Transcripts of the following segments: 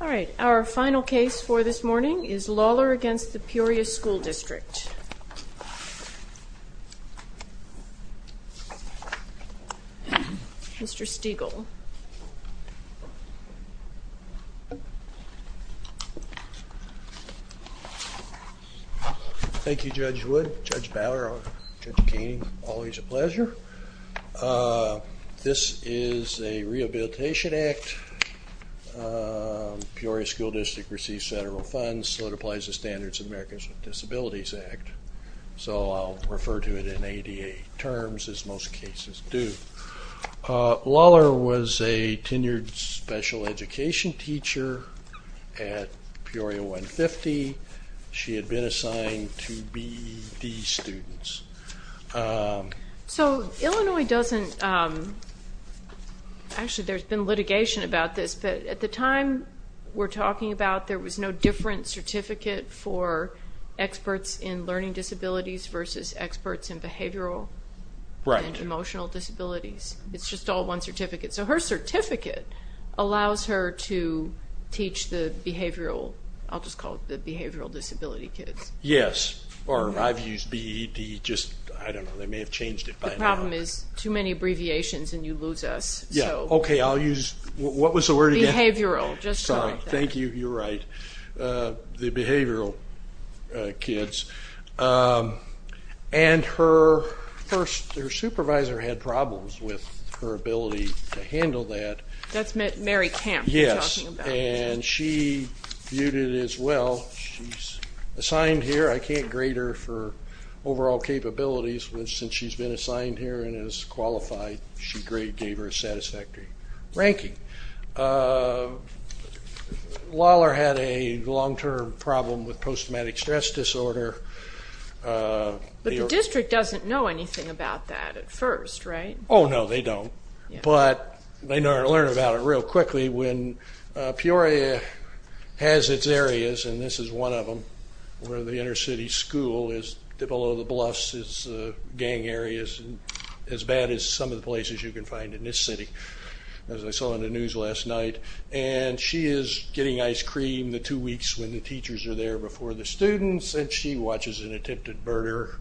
All right, our final case for this morning is Lawler v. Peoria School District. Mr. Stegall. Thank you, Judge Wood, Judge Bower, Judge Keenan. Always a pleasure. This is a Rehabilitation Act. Peoria School District receives federal funds, so it applies the Standards of Americans with Disabilities Act, so I'll refer to it in ADA terms, as most cases do. Lawler was a tenured special education teacher at Peoria 150. She had been assigned to B.E.D. students. So Illinois doesn't, actually there's been litigation about this, but at the time we're different certificate for experts in learning disabilities versus experts in behavioral and emotional disabilities. It's just all one certificate. So her certificate allows her to teach the behavioral, I'll just call it the behavioral disability kids. Yes, or I've used B.E.D. just, I don't know, they may have changed it by now. The problem is too many abbreviations and you lose us. Yeah, okay, I'll use, what was the word again? Behavioral, sorry, thank you, you're right, the behavioral kids. And her first, her supervisor had problems with her ability to handle that. That's Mary Camp. Yes, and she viewed it as well, she's assigned here, I can't grade her for overall capabilities, which since she's been assigned here and is qualified, she gave her a satisfactory ranking. Lawlor had a long-term problem with post-traumatic stress disorder. But the district doesn't know anything about that at first, right? Oh no, they don't, but they learn about it real quickly when Peoria has its areas, and this is one of them, where the inner city school is below the bluffs, it's gang areas as bad as some of the places you can find in this city, as I saw in the news last night, and she is getting ice cream the two weeks when the teachers are there before the students, and she watches an attempted murder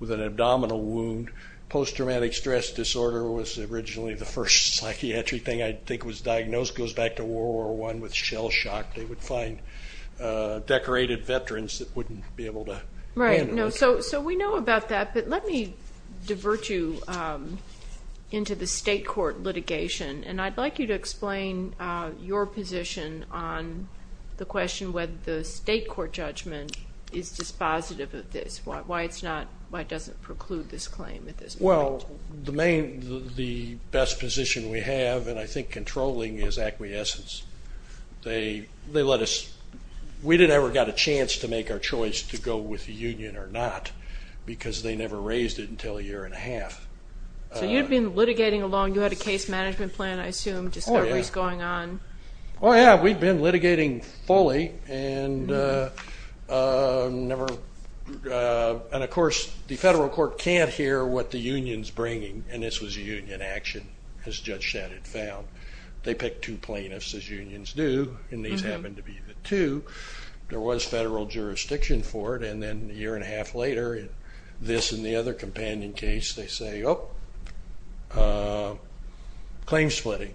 with an abdominal wound. Post-traumatic stress disorder was originally the first psychiatric thing I think was diagnosed, goes back to World War I with shell shock, they would find decorated veterans that wouldn't be able to handle it. So we know about that, but let me divert you into the state court litigation, and I'd like you to explain your position on the question whether the state court judgment is dispositive of this, why it's not, why it doesn't preclude this claim. Well, the main, the best position we have, and I think controlling, is acquiescence. They let us, we didn't ever get a chance to make our choice to go with the union or not, because they never raised it until a year and a half. So you'd been litigating along, you had a case management plan, I assume, discoveries going on. Oh yeah, we'd been litigating fully, and never, and of course the federal court can't hear what the union's bringing, and this was a union action, as Judge Shadid found. They picked two plaintiffs, as unions do, and these happened to be the two. There was federal jurisdiction for it, and then a year and a half later, this and the other companion case, they say, oh, claim splitting.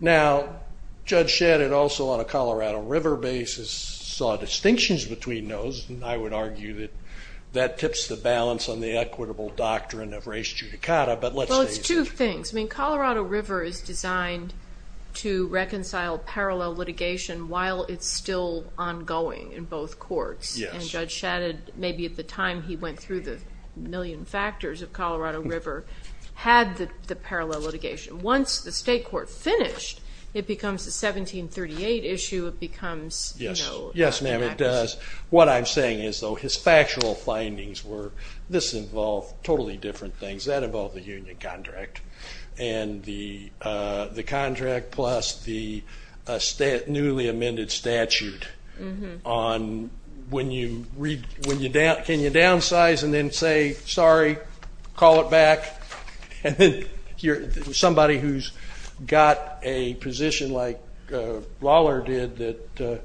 Now, Judge Shadid also on a Colorado River basis saw distinctions between those, and I would argue that that tips the balance on the equitable doctrine of res judicata, but let's say- Well, it's two things. I mean, Colorado River is designed to reconcile parallel litigation while it's still ongoing in both courts, and Judge Shadid, maybe at the time he went through the million factors of Colorado River, had the parallel litigation. Once the state court finished, it becomes a 1738 issue, it becomes- Yes, ma'am, it does. What I'm saying is, though, his factual findings were, this involved totally different things. That involved the union contract, and the contract plus the newly amended statute on, can you downsize and then say, sorry, call it back, and then somebody who's got a position like Lawler did that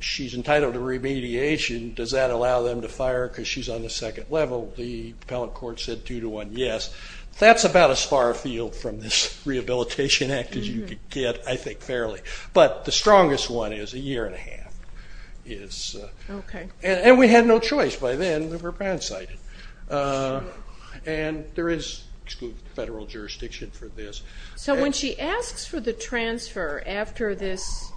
she's entitled to remediation, does that allow them to fire her because she's on the second level? The appellate court said two to one, yes. That's about as far afield from this Rehabilitation Act as you could get, I think, fairly, but the strongest one is a year and a half. And we had no choice by then. We were brown-sided, and there is federal jurisdiction for this. So when she asks for the transfer after this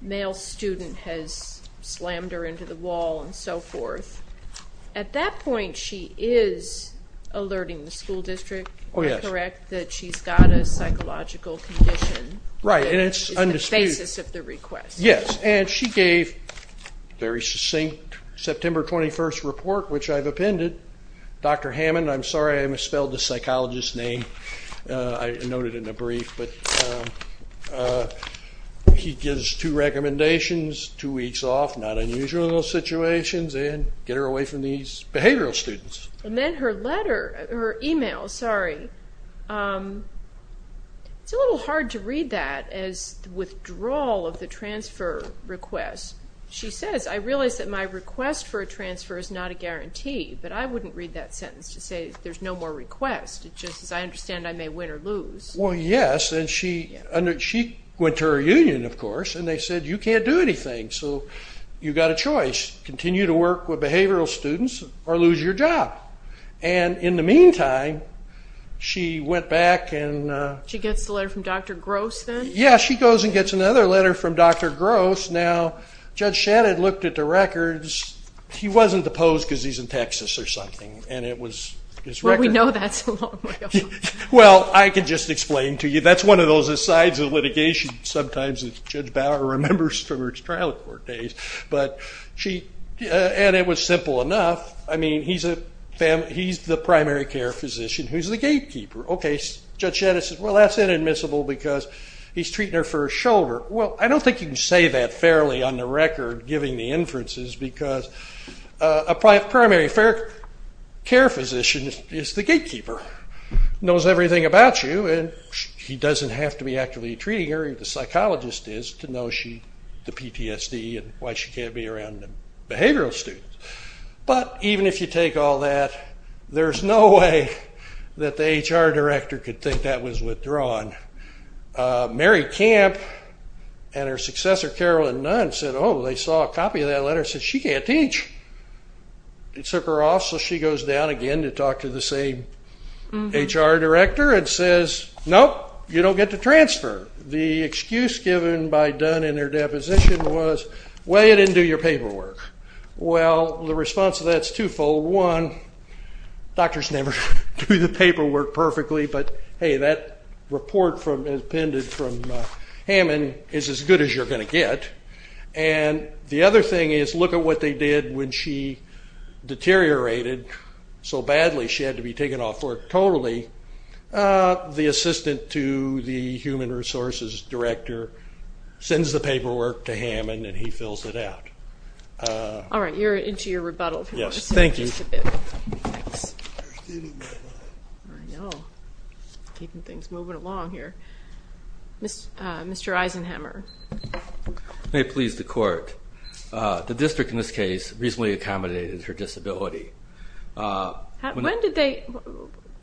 male student has slammed her into the wall and so forth, at that point she is alerting the school district, correct, that she's got a psychological condition. Right, and it's undisputed. It's the basis of the request. Yes, and she gave a very succinct September 21st report, which I've appended. Dr. Hammond, I'm sorry I misspelled the psychologist's name, I note it in a brief, but he gives two recommendations, two weeks off, not unusual in those situations, and get her away from these behavioral students. And then her letter, her email, sorry, it's a little hard to read that as the withdrawal of the transfer request. She says, I realize that my request for a transfer is not a guarantee, but I wouldn't read that sentence to say there's no more requests. It's just, as I understand, I may win or lose. Well, yes, and she went to her union, of course, and they said, you can't do anything, so you've got a choice, continue to work with behavioral students or lose your job. And in the meantime, she went back and She gets the letter from Dr. Gross then? Yeah, she goes and gets another letter from Dr. Gross. Now, Judge Shannon looked at the records. He wasn't deposed because he's in Texas or something, and it was his record. Well, we know that's a long way off. Well, I can just explain to you, that's one of the sides of litigation sometimes that Judge Bauer remembers from her trial court days. And it was simple enough. I mean, he's the primary care physician who's the gatekeeper. Okay, Judge Shannon says, well, that's inadmissible because he's treating her for a shoulder. Well, I don't think you can say that fairly on the record, given the inferences, because a primary care physician is the gatekeeper, knows everything about you, and he doesn't have to be actually treating her, if the psychologist is, to know the PTSD and why she can't be around the behavioral students. But even if you take all that, there's no way that the HR director could think that was withdrawn. Mary Camp and her successor, Carolyn Nunn, said, oh, they saw a copy of that letter, said she can't teach. It took her off, so she goes down again to talk to the same HR director and says, nope, you don't get to transfer. The excuse given by Dunn in her deposition was, well, you didn't do your paperwork. Well, the response to that is twofold. One, doctors never do the paperwork perfectly, but hey, that report from Hammond is as good as you're going to get. And the other thing is, look at what they did when she deteriorated so badly she had to be taken off work totally. The assistant to the human resources director sends the paperwork to Hammond, and he fills it out. All right, you're into your rebuttal. Yes, thank you. Keeping things moving along here. Mr. Eisenhammer. May it please the court. The district in this case reasonably accommodated her disability. When did they,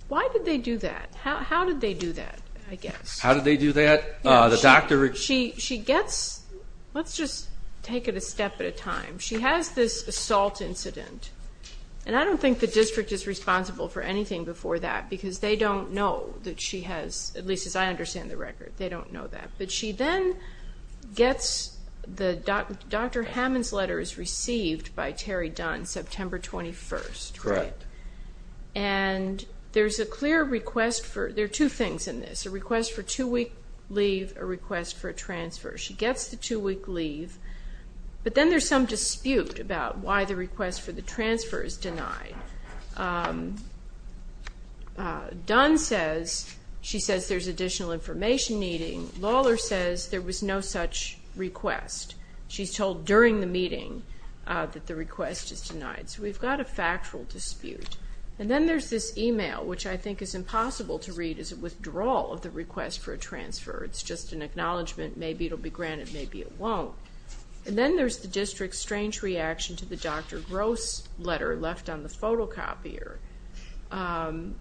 why did they do that? How did they do that, I guess? How did they do that? The doctor. She gets, let's just take it a step at a time. She has this assault incident, and I don't think the district is responsible for anything before that because they don't know that she has, at least as I understand the record, they don't know that. But she then gets the, Dr. Hammond's letter is received by Terry Dunn, September 21st. Correct. And there's a clear request for, there are two things in this, a request for two-week leave, a request for a transfer. She gets the two-week leave, but then there's some dispute about why the request for the transfer is denied. Dunn says, she says there's additional information needing. Lawler says there was no such request. She's told during the meeting that the request is denied. So we've got a factual dispute. And then there's this email, which I think is impossible to read, is a withdrawal of the request for a transfer. It's just an acknowledgement, maybe it'll be granted, maybe it won't. And then there's the district's strange reaction to the Dr. Gross letter left on the phone. It's a photocopier.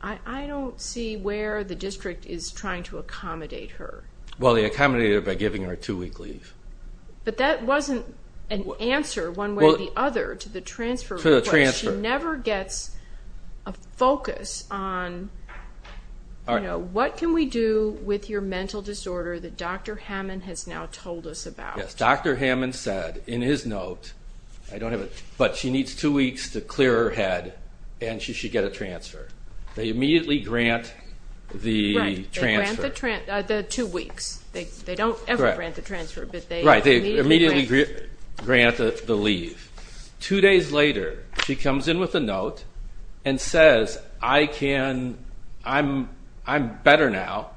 I don't see where the district is trying to accommodate her. Well, they accommodated her by giving her a two-week leave. But that wasn't an answer, one way or the other, to the transfer request. To the transfer. She never gets a focus on, you know, what can we do with your mental disorder that Dr. Hammond has now told us about? Dr. Hammond said in his note, I don't have it, but she needs two weeks to clear her head and she should get a transfer. They immediately grant the transfer. The two weeks. They don't ever grant the transfer. But they immediately grant the leave. Two days later, she comes in with a note and says, I can, I'm better now,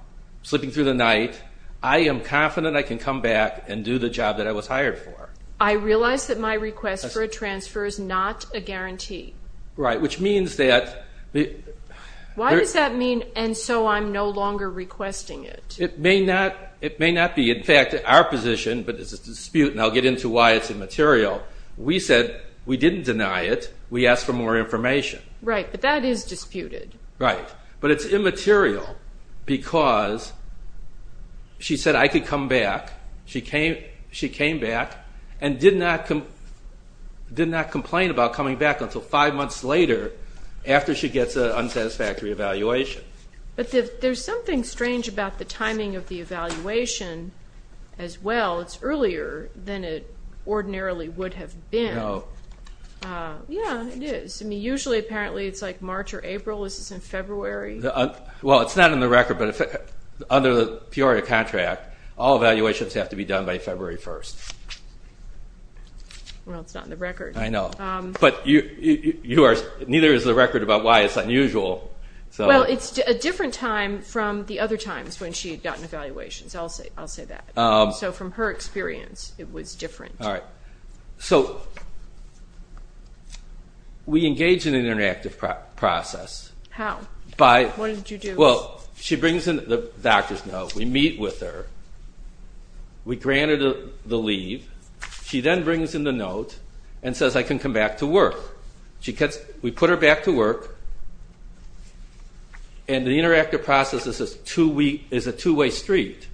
sleeping through the night, I am confident I can come back and do the job that I was hired for. I realize that my request for a transfer is not a guarantee. Right, which means that... Why does that mean, and so I'm no longer requesting it? It may not be. In fact, our position, but it's a dispute and I'll get into why it's immaterial, we said we didn't deny it, we asked for more information. Right, but that is disputed. Right, but it's immaterial because she said I could come back, she came back and did not complain about coming back until five months later after she gets an unsatisfactory evaluation. But there's something strange about the timing of the evaluation as well, it's earlier than it ordinarily would have been. Yeah, it is, I mean, usually, apparently, it's like March or April, this is in February. Well, it's not in the record, but under the Peoria contract, all evaluations have to be done by February 1st. Well, it's not in the record. I know, but you are, neither is the record about why it's unusual, so... Well, it's a different time from the other times when she had gotten evaluations, I'll say that. So from her experience, it was different. So we engage in an interactive process. How? What did you do? Well, she brings in the doctor's note, we meet with her, we grant her the leave, she then brings in the note and says I can come back to work. We put her back to work, and the interactive process is a two-way street.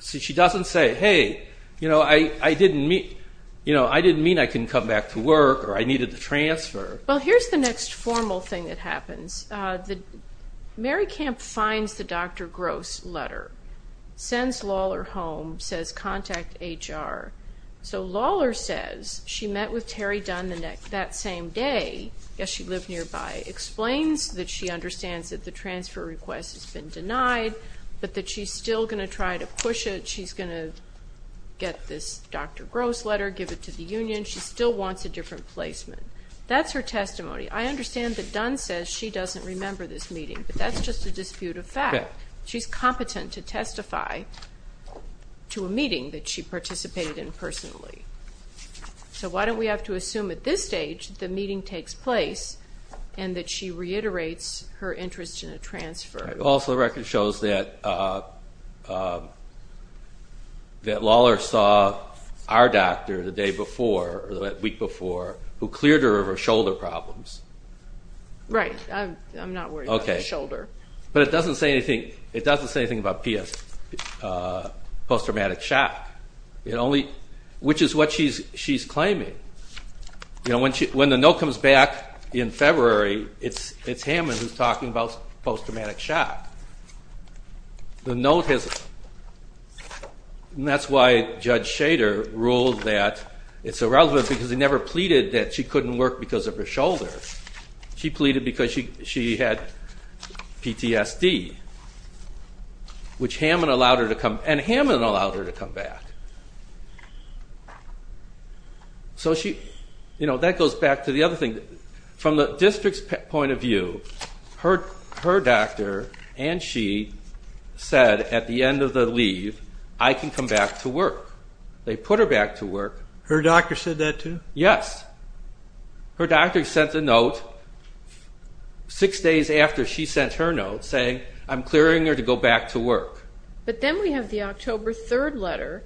So she doesn't say, hey, I didn't mean I couldn't come back to work or I needed to transfer. Well, here's the next formal thing that happens. Mary Camp finds the Dr. Gross letter, sends Lawler home, says contact HR. So Lawler says she met with Terry Dunn that same day, yes, she lived nearby, explains that she understands that the transfer request has been denied, but that she's still going to try to push it. She's going to get this Dr. Gross letter, give it to the union. She still wants a different placement. That's her testimony. I understand that Dunn says she doesn't remember this meeting, but that's just a dispute of fact. She's competent to testify to a meeting that she participated in personally. So why don't we have to assume at this stage the meeting takes place and that she reiterates her interest in a transfer? Also, the record shows that Lawler saw our doctor the day before, or the week before, who cleared her of her shoulder problems. Right, I'm not worried about my shoulder. But it doesn't say anything about post-traumatic shock, which is what she's claiming. You know, when the note comes back in February, it's Hammond who's talking about post-traumatic shock. The note has, and that's why Judge Shader ruled that it's irrelevant because he never pleaded that she couldn't work because of her shoulder. She pleaded because she had PTSD, which Hammond allowed her to come, and Hammond allowed her to come back. So she, you know, that goes back to the other thing. From the district's point of view, her doctor and she said at the end of the leave, I can come back to work. They put her back to work. Her doctor said that too? Yes. Her doctor sent a note six days after she sent her note saying, I'm clearing her to go back to work. But then we have the October 3rd letter,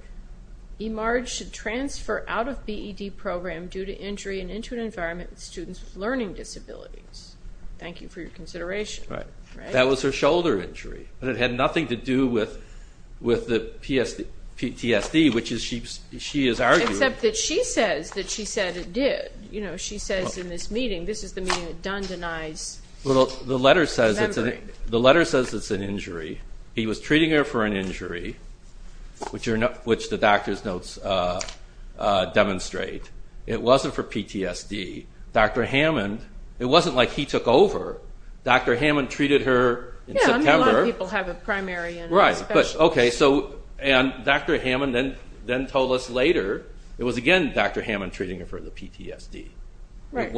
eMERGE should transfer out of BED program due to injury and into an environment with students with learning disabilities. Thank you for your consideration. Right. That was her shoulder injury, but it had nothing to do with the PTSD, which she is arguing. Except that she says that she said it did. You know, she says in this meeting, this is the meeting that Dunn denies remembering. The letter says it's an injury. He was treating her for an injury, which the doctor's notes demonstrate. It wasn't for PTSD. Dr. Hammond, it wasn't like he took over. Dr. Hammond treated her in September. Yeah, I mean, a lot of people have a primary and a special. Right, but okay. So, and Dr. Hammond then told us later, it was again Dr. Hammond treating her for the PTSD. Right. It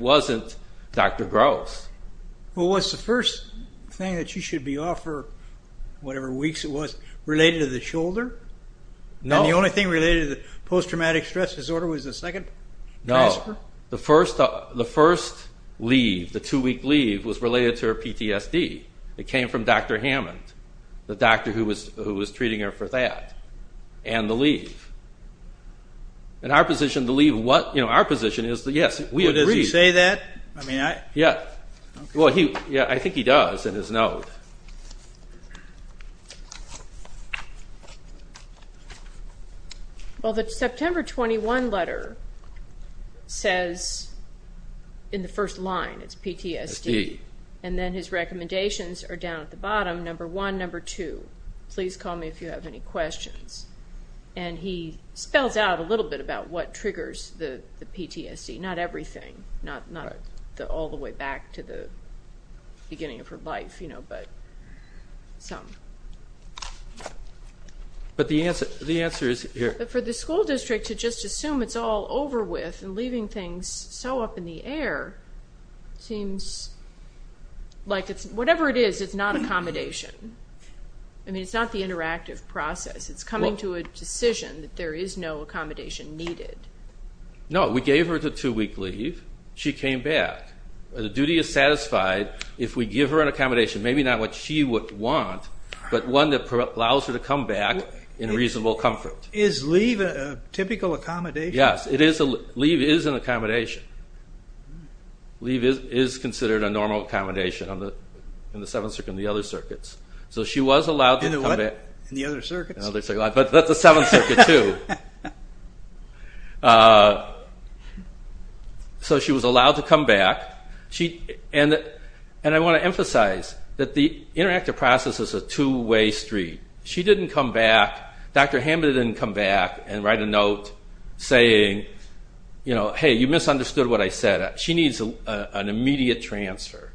wasn't Dr. Gross. Well, what's the first thing that you should be offered, whatever weeks it was, related to the shoulder? No. And the only thing related to the post-traumatic stress disorder was the second transfer? No. The first leave, the two-week leave was related to her PTSD. It came from Dr. Hammond, the doctor who was treating her for that and the leave. And our position, the leave, what, you know, our position is that yes, we agree. Does he say that? I mean, I. Well, yeah, I think he does in his note. Well, the September 21 letter says in the first line, it's PTSD. And then his recommendations are down at the bottom, number one, number two, please call me if you have any questions. And he spells out a little bit about what triggers the PTSD. Not everything, not all the way back to the beginning of her life, you know, but some. But the answer is here. For the school district to just assume it's all over with and leaving things so up in the air seems like it's, whatever it is, it's not accommodation. I mean, it's not the interactive process. It's coming to a decision that there is no accommodation needed. No, we gave her the two week leave. She came back. The duty is satisfied if we give her an accommodation, maybe not what she would want, but one that allows her to come back in reasonable comfort. Is leave a typical accommodation? Yes, it is. Leave is an accommodation. Leave is considered a normal accommodation on the seventh circuit and the other circuits. So she was allowed to come back. And the other circuits? But that's the seventh circuit too. So she was allowed to come back. And I want to emphasize that the interactive process is a two-way street. She didn't come back, Dr. Hamby didn't come back and write a note saying, you know, hey, you misunderstood what I said. She needs an immediate transfer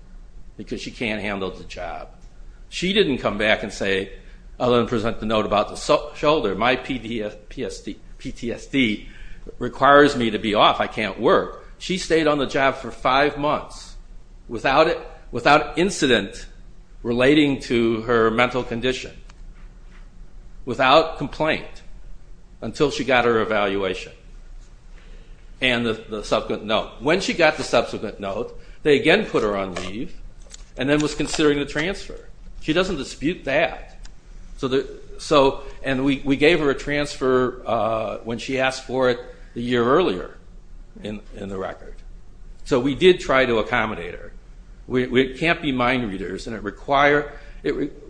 because she can't handle the job. She didn't come back and say, I'll then present the note about the shoulder. My PTSD requires me to be off. I can't work. She stayed on the job for five months without incident relating to her mental condition, without complaint until she got her evaluation and the subsequent note. When she got the subsequent note, they again put her on leave and then was considering the transfer. She doesn't dispute that. And we gave her a transfer when she asked for it a year earlier in the record. So we did try to accommodate her. We can't be mind readers. And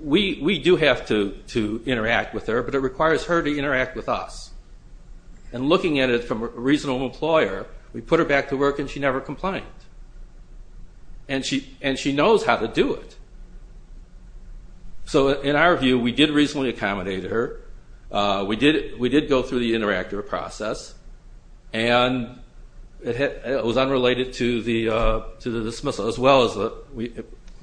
we do have to interact with her, but it requires her to interact with us. And looking at it from a reasonable employer, we put her back to work and she never complained. And she knows how to do it. So in our view, we did reasonably accommodate her. We did go through the interactive process. And it was unrelated to the dismissal as well as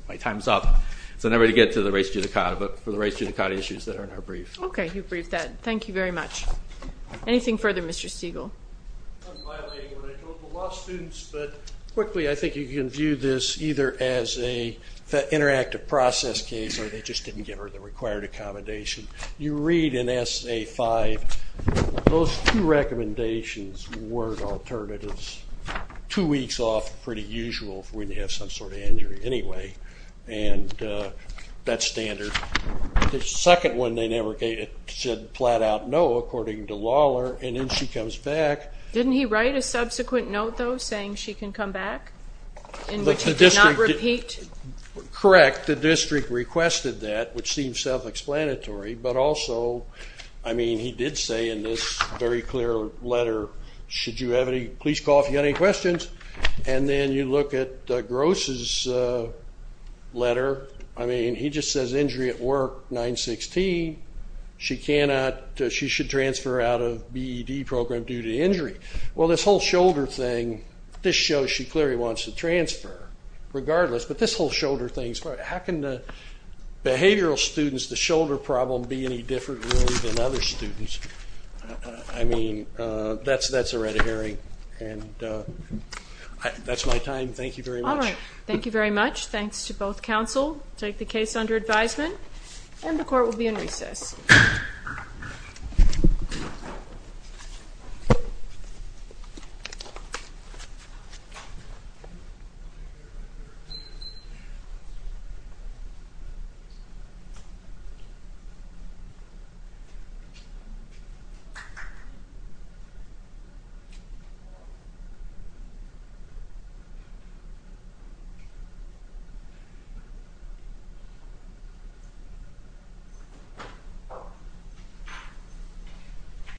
my time's up. So never to get to the race judicata, but for the race judicata issues that are in our brief. Okay, you briefed that. Thank you very much. Anything further, Mr. Stegall? I'm violating what I told the law students. But quickly, I think you can view this either as a interactive process case, or they just didn't give her the required accommodation. You read in SA-5, those two recommendations were alternatives. Two weeks off, pretty usual for when you have some sort of injury anyway. And that's standard. The second one, they never said flat out no, according to Lawler. And then she comes back. Didn't he write a subsequent note, though, saying she can come back? In which he did not repeat? Correct. The district requested that, which seems self-explanatory. But also, I mean, he did say in this very clear letter, should you have any, please call if you have any questions. And then you look at Gross's letter. I mean, he just says injury at work, 916. She cannot, she should transfer out of BED program due to injury. Well, this whole shoulder thing, this shows she clearly wants to transfer regardless. But this whole shoulder thing, how can the behavioral students, the shoulder problem be any different, really, than other students? I mean, that's a red herring. And that's my time. Thank you very much. All right. Thank you very much. Thanks to both counsel. Take the case under advisement. And the court will be in recess. Thank you.